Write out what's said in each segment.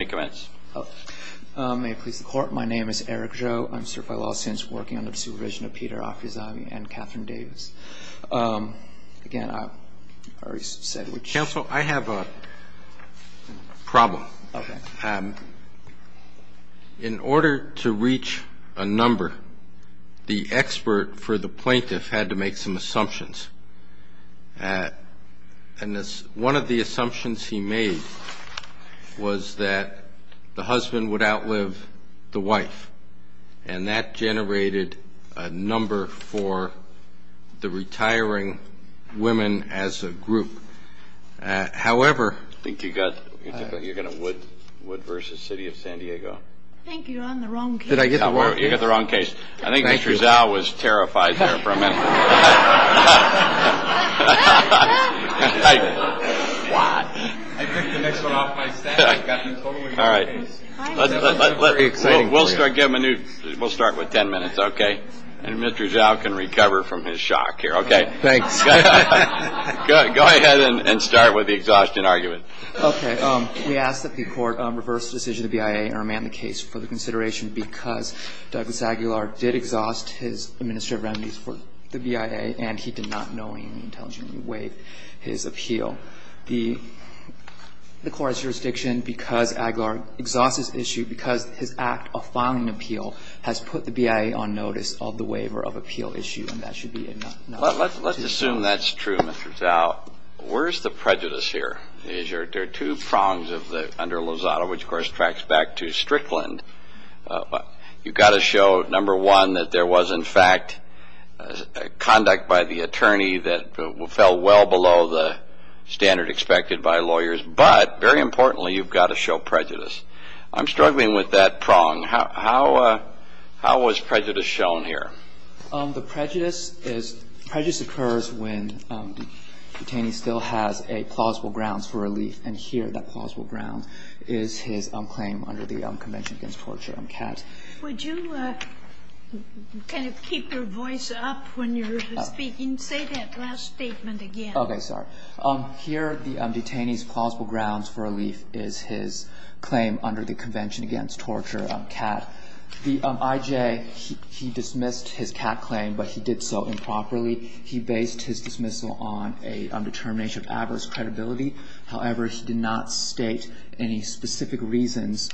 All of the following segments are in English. May it please the Court, my name is Eric Joe, I've served by law since working under the supervision of Peter Affizani and Catherine Davis. Again, I've already said which... Counsel, I have a problem. Okay. In order to reach a number, the expert for the plaintiff had to make some assumptions. And one of the assumptions he made was that the husband would outlive the wife. And that generated a number for the retiring women as a group. However... I think you've got a Wood v. City of San Diego. I think you're on the wrong case. Did I get the wrong case? You got the wrong case. I think Mr. Zao was terrified there for a minute. What? I picked the next one off my stack. All right. We'll start with ten minutes, okay? And Mr. Zao can recover from his shock here, okay? Thanks. Go ahead and start with the exhaustion argument. Okay. We ask that the Court reverse the decision of the BIA and remand the case for the consideration because Douglas Aguilar did exhaust his administrative remedies for the BIA, and he did not knowingly and intelligently waive his appeal. The Court's jurisdiction, because Aguilar exhausts his issue, because his act of filing an appeal has put the BIA on notice of the waiver of appeal issue, and that should be enough. Let's assume that's true, Mr. Zao. Where's the prejudice here? There are two prongs under Lozada, which, of course, tracks back to Strickland. You've got to show, number one, that there was, in fact, conduct by the attorney that fell well below the standard expected by lawyers, but, very importantly, you've got to show prejudice. I'm struggling with that prong. How was prejudice shown here? The prejudice occurs when the detainee still has plausible grounds for relief, and here that plausible ground is his claim under the Convention Against Torture, CAT. Would you kind of keep your voice up when you're speaking? Say that last statement again. Okay. Sorry. Here the detainee's plausible grounds for relief is his claim under the Convention Against Torture, CAT. The IJ, he dismissed his CAT claim, but he did so improperly. He based his dismissal on a determination of adverse credibility. However, he did not state any specific reasons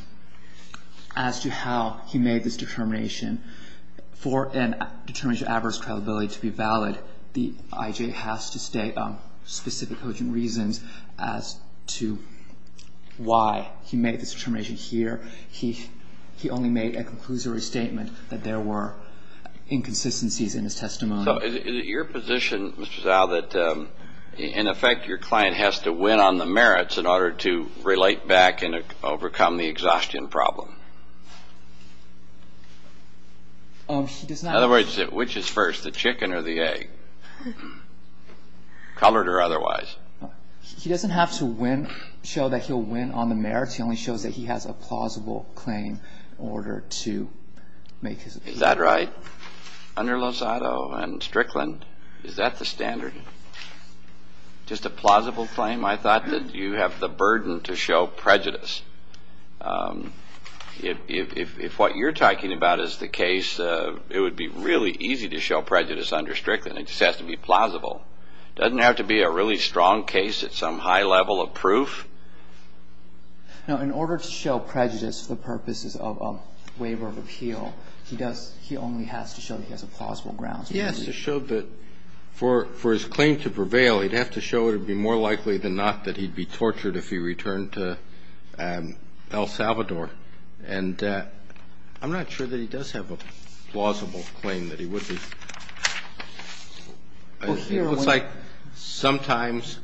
as to how he made this determination. For a determination of adverse credibility to be valid, the IJ has to state specific cogent reasons as to why he made this determination here. He only made a conclusory statement that there were inconsistencies in his testimony. So is it your position, Mr. Zhao, that, in effect, your client has to win on the merits in order to relate back and overcome the exhaustion problem? In other words, which is first, the chicken or the egg, colored or otherwise? He doesn't have to show that he'll win on the merits. He only shows that he has a plausible claim in order to make his appeal. Is that right? Under Lozado and Strickland, is that the standard? Just a plausible claim? I thought that you have the burden to show prejudice. If what you're talking about is the case, it would be really easy to show prejudice under Strickland. It just has to be plausible. It doesn't have to be a really strong case at some high level of proof. Now, in order to show prejudice for the purposes of a waiver of appeal, he does he only has to show that he has a plausible grounds. He has to show that for his claim to prevail, he'd have to show it would be more likely than not that he'd be tortured if he returned to El Salvador. And I'm not sure that he does have a plausible claim that he would be. It looks like sometimes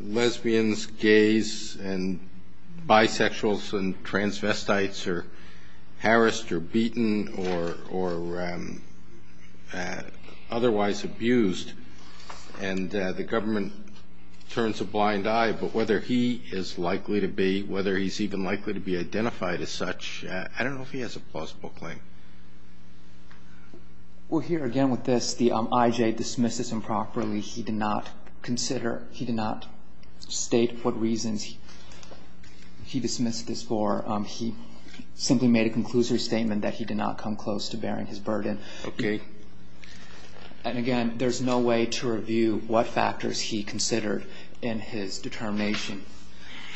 lesbians, gays, and bisexuals, and transvestites are harassed or beaten or otherwise abused, and the government turns a blind eye. But whether he is likely to be, whether he's even likely to be identified as such, I don't know if he has a plausible claim. Well, here again with this, the IJ dismisses improperly he did not consider, he did not state what reasons he dismissed this for. He simply made a conclusive statement that he did not come close to bearing his burden. Okay. And again, there's no way to review what factors he considered in his determination.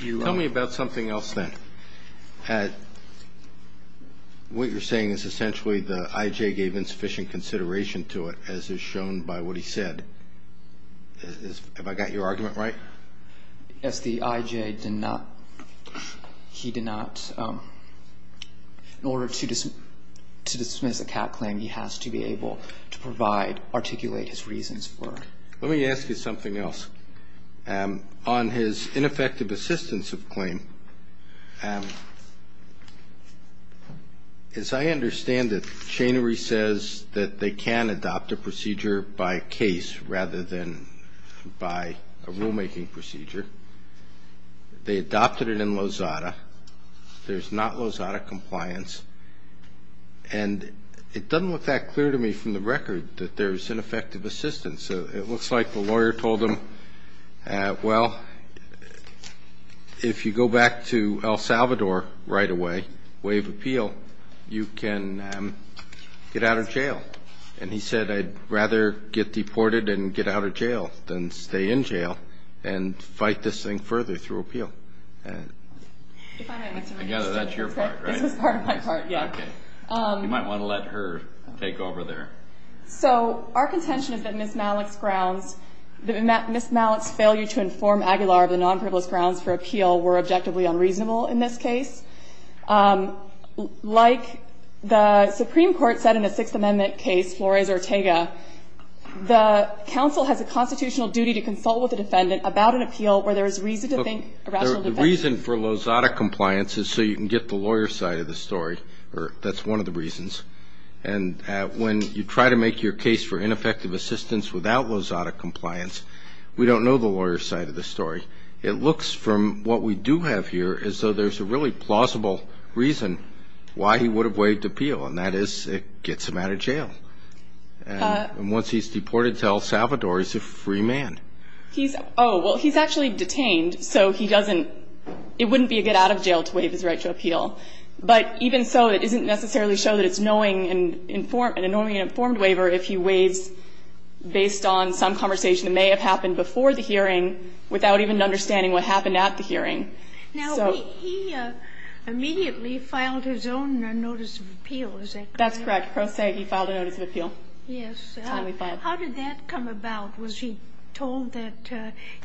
Tell me about something else then. What you're saying is essentially the IJ gave insufficient consideration to it, as is shown by what he said. Have I got your argument right? Yes, the IJ did not, he did not, in order to dismiss a cat claim, he has to be able to provide, articulate his reasons for. Let me ask you something else. On his ineffective assistance of claim, as I understand it, Chanery says that they can adopt a procedure by case rather than by a rulemaking procedure. They adopted it in Lozada. There's not Lozada compliance. And it doesn't look that clear to me from the record that there's ineffective assistance. It looks like the lawyer told him, well, if you go back to El Salvador right away, waive appeal, you can get out of jail. And he said, I'd rather get deported and get out of jail than stay in jail and fight this thing further through appeal. I gather that's your part, right? This is part of my part, yeah. You might want to let her take over there. So our contention is that Ms. Malik's grounds, Ms. Malik's failure to inform Aguilar of the nonprivileged grounds for appeal were objectively unreasonable in this case. Like the Supreme Court said in the Sixth Amendment case, Flores-Ortega, the counsel has a constitutional duty to consult with the defendant about an appeal where there is reason to think a rational defense. The reason for Lozada compliance is so you can get the lawyer's side of the story. That's one of the reasons. And when you try to make your case for ineffective assistance without Lozada compliance, we don't know the lawyer's side of the story. It looks from what we do have here as though there's a really plausible reason why he would have waived appeal, and that is it gets him out of jail. And once he's deported to El Salvador, he's a free man. Oh, well, he's actually detained, so he doesn't ‑‑ it wouldn't be a get out of jail to waive his right to appeal. But even so, it doesn't necessarily show that it's knowing and informing ‑‑ a knowing and informed waiver if he waives based on some conversation that may have happened before the hearing without even understanding what happened at the hearing. So ‑‑ Now, he immediately filed his own notice of appeal, is that correct? That's correct. Proseggi filed a notice of appeal. Yes. Finally filed. How did that come about? Was he told that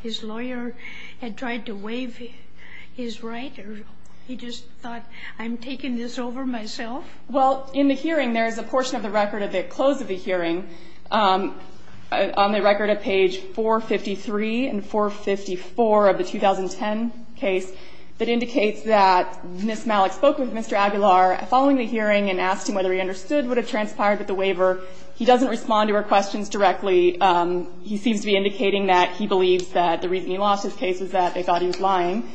his lawyer had tried to waive his right, or he just thought, I'm taking this over myself? Well, in the hearing, there's a portion of the record at the close of the hearing, on the record at page 453 and 454 of the 2010 case, that indicates that Ms. Malik spoke with Mr. Aguilar following the hearing and asked him whether he understood what had transpired with the waiver. He doesn't respond to her questions directly. He seems to be indicating that he believes that the reason he lost his case is that they thought he was lying.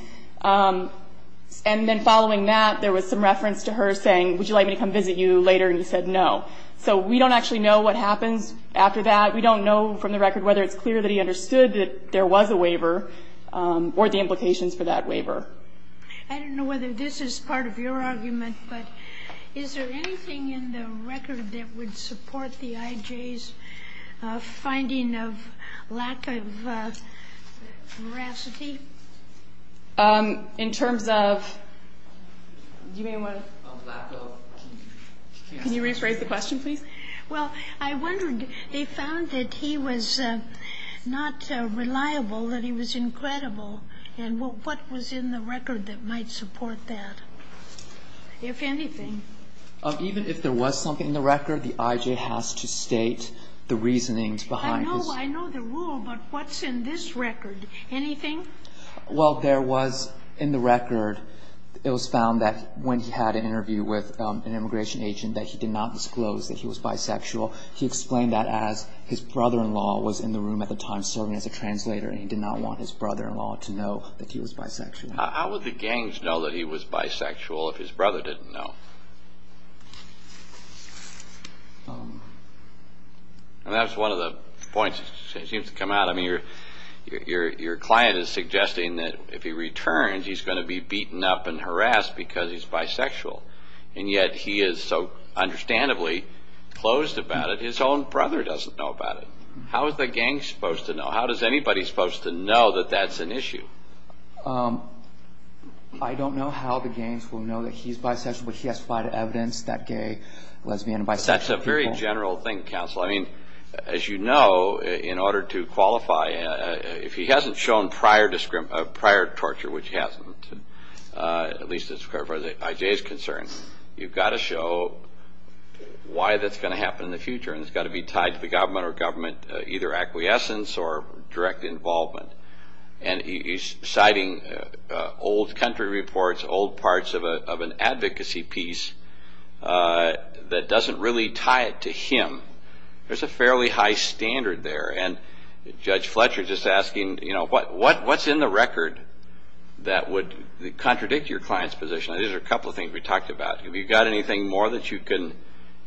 And then following that, there was some reference to her saying, would you like me to come visit you later? And he said no. So we don't actually know what happens after that. We don't know from the record whether it's clear that he understood that there was a waiver or the implications for that waiver. I don't know whether this is part of your argument, but is there anything in the record that would support the IJ's finding of lack of veracity? In terms of? Do you mean lack of? Can you rephrase the question, please? Well, I wondered, they found that he was not reliable, that he was incredible. And what was in the record that might support that, if anything? Even if there was something in the record, the IJ has to state the reasonings behind his. I know the rule, but what's in this record? Anything? Well, there was in the record, it was found that when he had an interview with an immigration agent, that he did not disclose that he was bisexual. He explained that as his brother-in-law was in the room at the time serving as a translator and he did not want his brother-in-law to know that he was bisexual. How would the gangs know that he was bisexual if his brother didn't know? And that's one of the points that seems to come out. I mean, your client is suggesting that if he returns, he's going to be beaten up and harassed because he's bisexual, and yet he is so understandably closed about it, his own brother doesn't know about it. How is the gang supposed to know? How is anybody supposed to know that that's an issue? I don't know how the gangs will know that he's bisexual, but he has to provide evidence that gay, lesbian, and bisexual people. That's a very general thing, counsel. I mean, as you know, in order to qualify, if he hasn't shown prior torture, which he hasn't, at least as far as the IJ is concerned, you've got to show why that's going to happen in the future, and it's got to be tied to the government or government either acquiescence or direct involvement. And he's citing old country reports, old parts of an advocacy piece that doesn't really tie it to him. There's a fairly high standard there. And Judge Fletcher is just asking, you know, what's in the record that would contradict your client's position? These are a couple of things we talked about. Have you got anything more that you can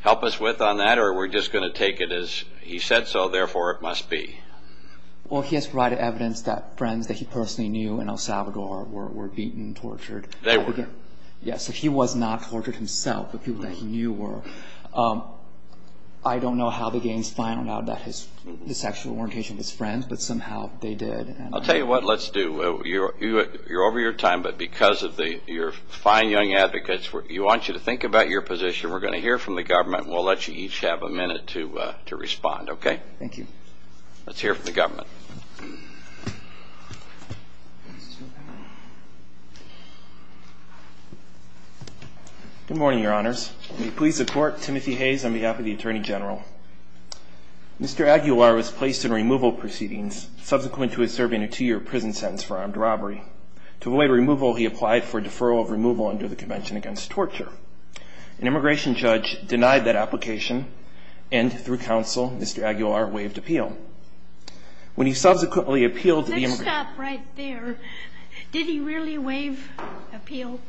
help us with on that, or are we just going to take it as he said so, therefore it must be? Well, he has provided evidence that friends that he personally knew in El Salvador were beaten, tortured. They were. Yes, so he was not tortured himself, but people that he knew were. I don't know how the gangs found out about the sexual orientation of his friends, but somehow they did. I'll tell you what, let's do. You're over your time, but because of your fine young advocates, we want you to think about your position. We're going to hear from the government, and we'll let you each have a minute to respond. Okay? Thank you. Let's hear from the government. Good morning, Your Honors. May it please the Court, Timothy Hayes on behalf of the Attorney General. Mr. Aguilar was placed in removal proceedings, subsequent to his serving a two-year prison sentence for armed robbery. To avoid removal, he applied for deferral of removal under the Convention Against Torture. An immigration judge denied that application, and through counsel, Mr. Aguilar waived appeal. When he subsequently appealed to the immigration judge. Let's stop right there. Did he really waive appeal?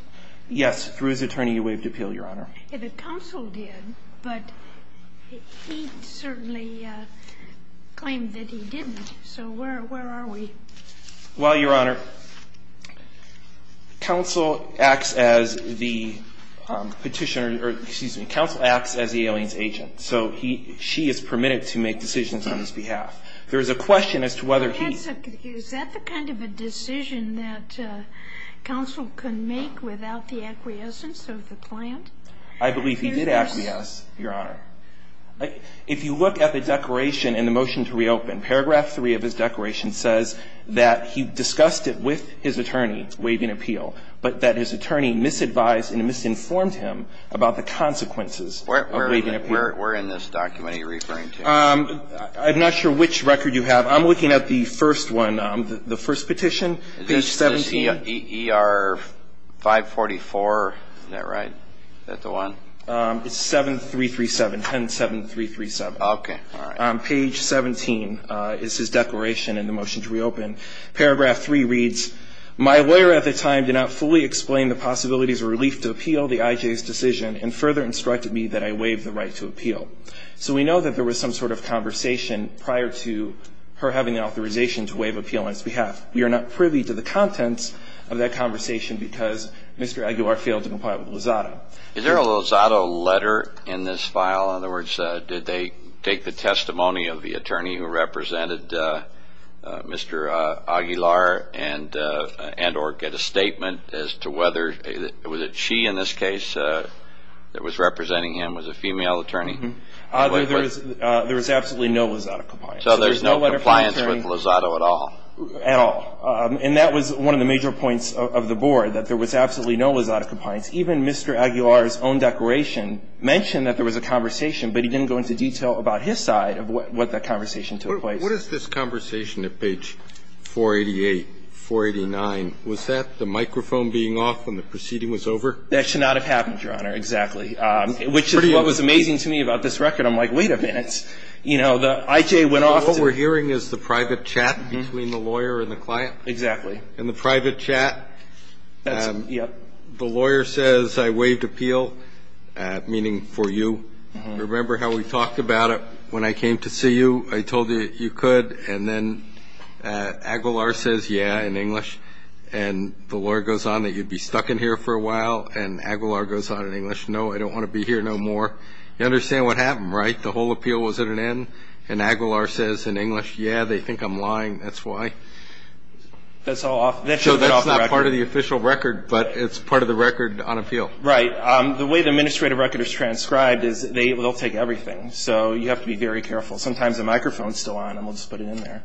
Yes, through his attorney, he waived appeal, Your Honor. The counsel did, but he certainly claimed that he didn't. So where are we? Well, Your Honor, counsel acts as the alien's agent. So she is permitted to make decisions on his behalf. There is a question as to whether he. Is that the kind of a decision that counsel can make without the acquiescence of the client? I believe he did acquiesce, Your Honor. If you look at the declaration in the motion to reopen, paragraph 3 of his declaration says that he discussed it with his attorney, waiving appeal, but that his attorney misadvised and misinformed him about the consequences of waiving appeal. Where in this document are you referring to? I'm not sure which record you have. I'm looking at the first one, the first petition, page 17. Is this ER 544? Is that right? Is that the one? It's 7337, 10-7337. Okay. All right. Page 17 is his declaration in the motion to reopen. Paragraph 3 reads, my lawyer at the time did not fully explain the possibilities or relief to appeal the IJ's decision and further instructed me that I waive the right to appeal. So we know that there was some sort of conversation prior to her having the authorization to waive appeal on his behalf. We are not privy to the contents of that conversation because Mr. Aguilar failed to comply with Lozado. Is there a Lozado letter in this file? In other words, did they take the testimony of the attorney who represented Mr. Aguilar and or get a statement as to whether, was it she in this case that was representing him, was a female attorney? There was absolutely no Lozado compliance. So there's no compliance with Lozado at all? At all. And that was one of the major points of the board, that there was absolutely no Lozado compliance. Even Mr. Aguilar's own declaration mentioned that there was a conversation, but he didn't go into detail about his side of what that conversation took place. What is this conversation at page 488, 489? Was that the microphone being off when the proceeding was over? That should not have happened, Your Honor, exactly. Which is what was amazing to me about this record. I'm like, wait a minute. You know, the IJ went off. What we're hearing is the private chat between the lawyer and the client. Exactly. In the private chat, the lawyer says, I waived appeal, meaning for you. Remember how we talked about it when I came to see you? I told you that you could. And then Aguilar says, yeah, in English. And the lawyer goes on that you'd be stuck in here for a while, and Aguilar goes on in English, no, I don't want to be here no more. You understand what happened, right? The whole appeal was at an end, and Aguilar says in English, yeah, they think I'm lying, that's why. So that's not part of the official record, but it's part of the record on appeal. Right. The way the administrative record is transcribed is they will take everything. So you have to be very careful. Sometimes the microphone is still on, and we'll just put it in there.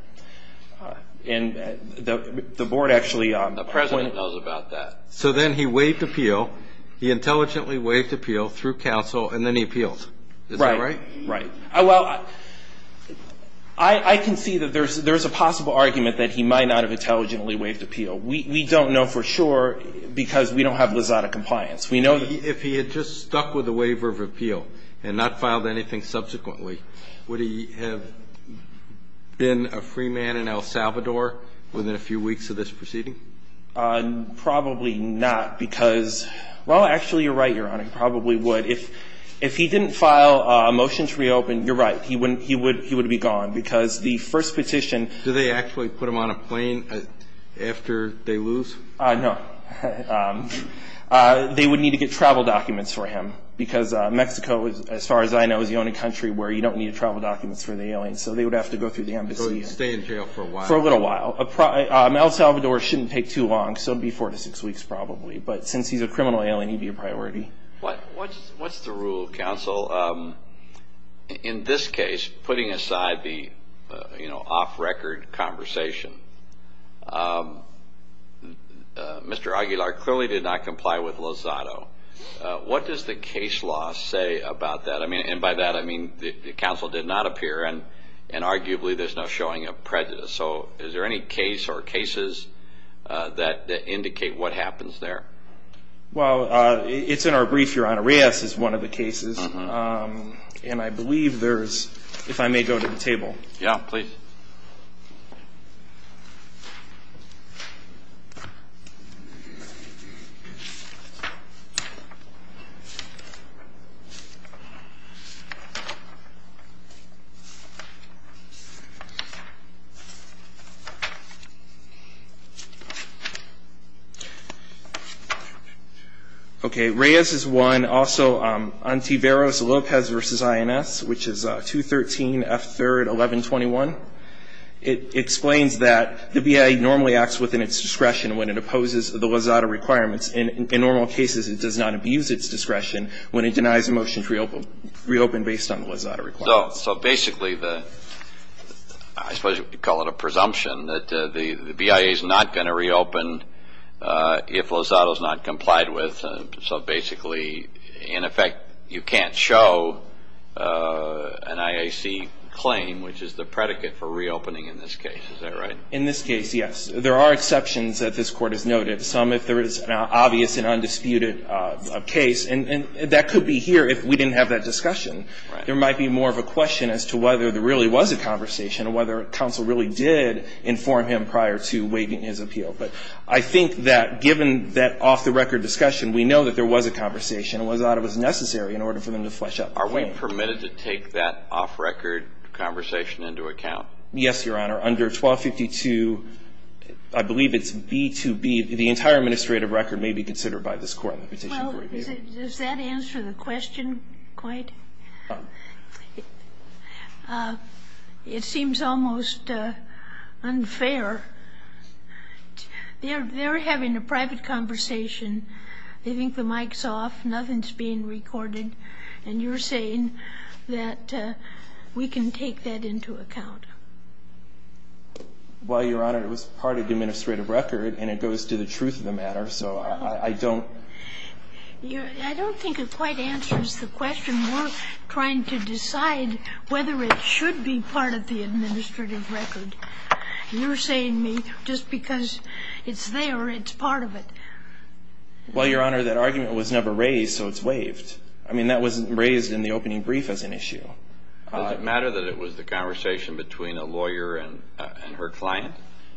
And the Board actually – The President knows about that. So then he waived appeal. He intelligently waived appeal through counsel, and then he appealed. Right. Is that right? Right. Well, I can see that there's a possible argument that he might not have intelligently waived appeal. We don't know for sure because we don't have Lizada compliance. If he had just stuck with the waiver of appeal and not filed anything subsequently, would he have been a free man in El Salvador within a few weeks of this proceeding? Probably not because – well, actually, you're right, Your Honor. He probably would. If he didn't file a motion to reopen, you're right, he would be gone because the first petition – Do they actually put him on a plane after they lose? No. They would need to get travel documents for him because Mexico, as far as I know, is the only country where you don't need travel documents for the alien, so they would have to go through the embassy. So he would stay in jail for a while. For a little while. El Salvador shouldn't take too long, so it would be four to six weeks probably. But since he's a criminal alien, he'd be a priority. What's the rule, counsel? In this case, putting aside the off-record conversation, Mr. Aguilar clearly did not comply with Lizado. What does the case law say about that? And by that, I mean the counsel did not appear and arguably there's no showing of prejudice. So is there any case or cases that indicate what happens there? Well, it's in our brief, Your Honor. Reass is one of the cases. And I believe there is, if I may go to the table. Yeah, please. Okay. Reass is one. Also, Antiveros-Lopez v. INS, which is 213-F3-1121. It explains that the BIA normally acts within its discretion when it opposes the Lizado requirements. In normal cases, it does not abuse its discretion when it denies a motion to reopen based on the Lizado requirements. So basically, I suppose you could call it a presumption that the BIA is not going to reopen if Lizado is not complied with. So basically, in effect, you can't show an IAC claim, which is the predicate for reopening in this case. Is that right? In this case, yes. There are exceptions that this Court has noted, some if there is an obvious and undisputed case. And that could be here if we didn't have that discussion. There might be more of a question as to whether there really was a conversation and whether counsel really did inform him prior to waiving his appeal. But I think that given that off-the-record discussion, we know that there was a conversation and Lizado was necessary in order for them to flesh out the claim. Are we permitted to take that off-record conversation into account? Yes, Your Honor. Under 1252, I believe it's B-2B, the entire administrative record may be considered by this Court. Well, does that answer the question quite? No. It seems almost unfair. They're having a private conversation. They think the mic's off. Nothing's being recorded. And you're saying that we can take that into account. Well, Your Honor, it was part of the administrative record, and it goes to the truth of the matter. So I don't. I don't think it quite answers the question. We're trying to decide whether it should be part of the administrative record. You're saying to me just because it's there, it's part of it. Well, Your Honor, that argument was never raised, so it's waived. I mean, that wasn't raised in the opening brief as an issue. Does it matter that it was the conversation between a lawyer and her client?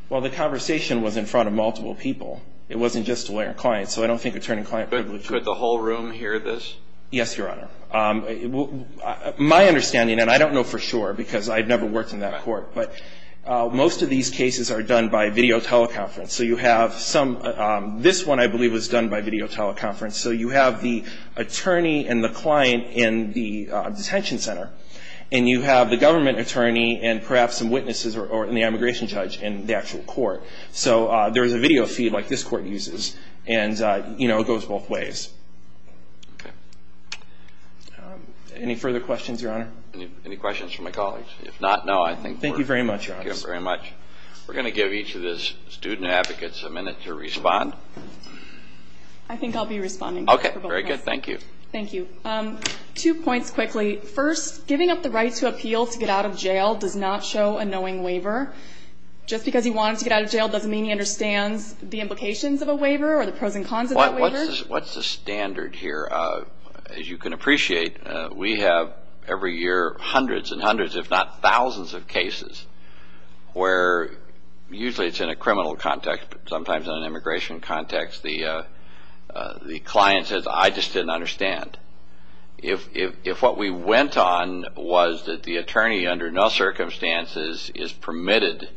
Well, the conversation was in front of multiple people. It wasn't just a lawyer and client, so I don't think attorney-client privilege. Could the whole room hear this? Yes, Your Honor. My understanding, and I don't know for sure because I've never worked in that court, but most of these cases are done by video teleconference. So you have some. This one, I believe, was done by video teleconference. So you have the attorney and the client in the detention center, and you have the government attorney and perhaps some witnesses or the immigration judge in the actual court. So there's a video feed like this court uses, and, you know, it goes both ways. Okay. Any further questions, Your Honor? Any questions for my colleagues? If not, no, I think we're good. Thank you very much, Your Honor. Thank you very much. We're going to give each of the student advocates a minute to respond. I think I'll be responding. Okay, very good. Thank you. Thank you. Two points quickly. First, giving up the right to appeal to get out of jail does not show a knowing waiver. Just because he wants to get out of jail doesn't mean he understands the implications of a waiver or the pros and cons of that waiver. What's the standard here? As you can appreciate, we have every year hundreds and hundreds, if not thousands, of cases where usually it's in a criminal context, but sometimes in an immigration context, the client says, I just didn't understand. If what we went on was that the attorney under no circumstances is permitted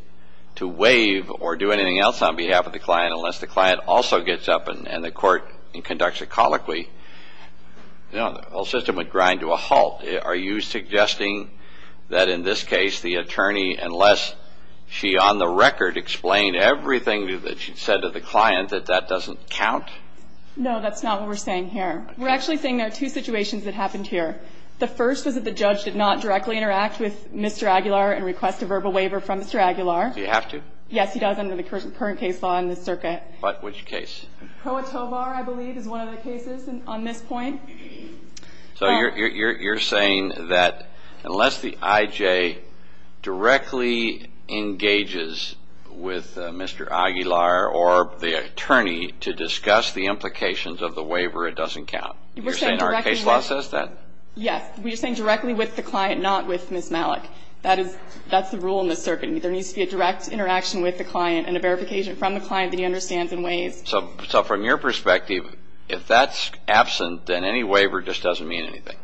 to waive or do anything else on behalf of the client unless the client also gets up and the court conducts a colloquy, you know, the whole system would grind to a halt. Are you suggesting that in this case the attorney, unless she on the record explained everything that she said to the client, that that doesn't count? No, that's not what we're saying here. We're actually saying there are two situations that happened here. The first was that the judge did not directly interact with Mr. Aguilar and request a verbal waiver from Mr. Aguilar. Do you have to? Yes, he does under the current case law in this circuit. But which case? Pro Atovar, I believe, is one of the cases on this point. So you're saying that unless the IJ directly engages with Mr. Aguilar or the attorney to discuss the implications of the waiver, it doesn't count? You're saying our case law says that? Yes. We're saying directly with the client, not with Ms. Malik. That's the rule in this circuit. There needs to be a direct interaction with the client and a verification from the client that he understands in ways. So from your perspective, if that's absent, then any waiver just doesn't mean anything?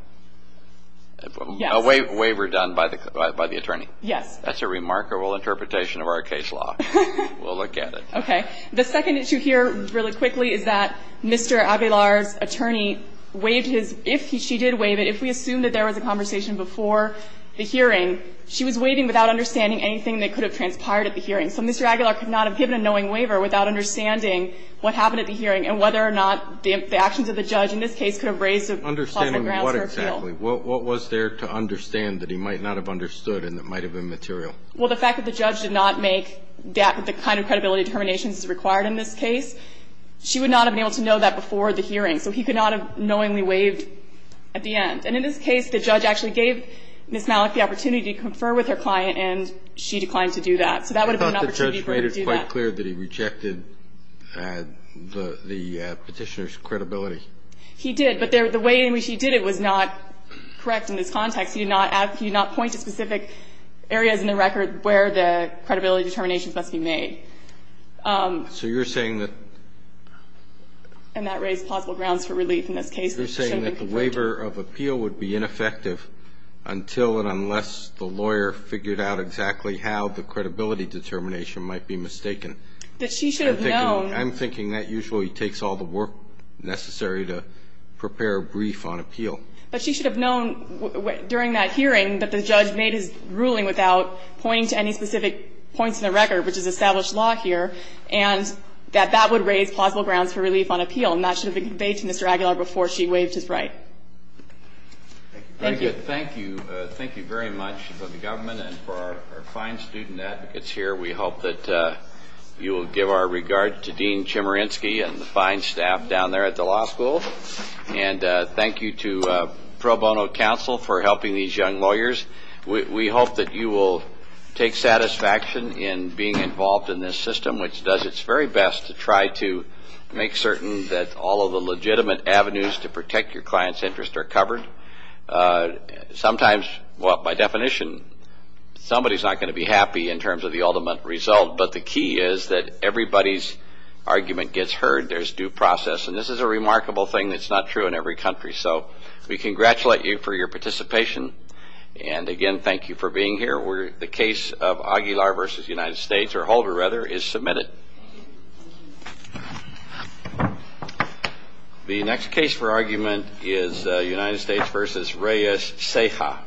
Yes. A waiver done by the attorney? Yes. That's a remarkable interpretation of our case law. We'll look at it. Okay. The second issue here, really quickly, is that Mr. Aguilar's attorney waived his – if she did waive it, if we assume that there was a conversation before the hearing, she was waiving without understanding anything that could have transpired at the hearing. So Mr. Aguilar could not have given a knowing waiver without understanding what happened at the hearing and whether or not the actions of the judge in this case could have raised a plausible grounds for appeal. Understanding what exactly? What was there to understand that he might not have understood and that might have been material? Well, the fact that the judge did not make the kind of credibility determinations required in this case, she would not have been able to know that before the hearing. So he could not have knowingly waived at the end. And in this case, the judge actually gave Ms. Malik the opportunity to confer with her client, and she declined to do that. So that would have been an opportunity for her to do that. I thought the judge made it quite clear that he rejected the Petitioner's credibility. He did. But the way in which he did it was not correct in this context. He did not point to specific areas in the record where the credibility determinations must be made. So you're saying that. And that raised plausible grounds for relief in this case. You're saying that the waiver of appeal would be ineffective until and unless the lawyer figured out exactly how the credibility determination might be mistaken. That she should have known. I'm thinking that usually takes all the work necessary to prepare a brief on appeal. But she should have known during that hearing that the judge made his ruling without pointing to any specific points in the record, which is established law here, and that that would raise plausible grounds for relief on appeal. And that should have been conveyed to Mr. Aguilar before she waived his right. Thank you. Thank you. Thank you. Thank you very much for the government and for our fine student advocates here. We hope that you will give our regards to Dean Chemerinsky and the fine staff down there at the law school. And thank you to pro bono counsel for helping these young lawyers. We hope that you will take satisfaction in being involved in this system, which does its very best to try to make certain that all of the legitimate avenues to protect your client's interest are covered. Sometimes, well, by definition, somebody's not going to be happy in terms of the ultimate result. But the key is that everybody's argument gets heard. There's due process. And this is a remarkable thing that's not true in every country. So we congratulate you for your participation. And, again, thank you for being here. The case of Aguilar v. United States, or Holder, rather, is submitted. The next case for argument is United States v. Reyes-Ceja.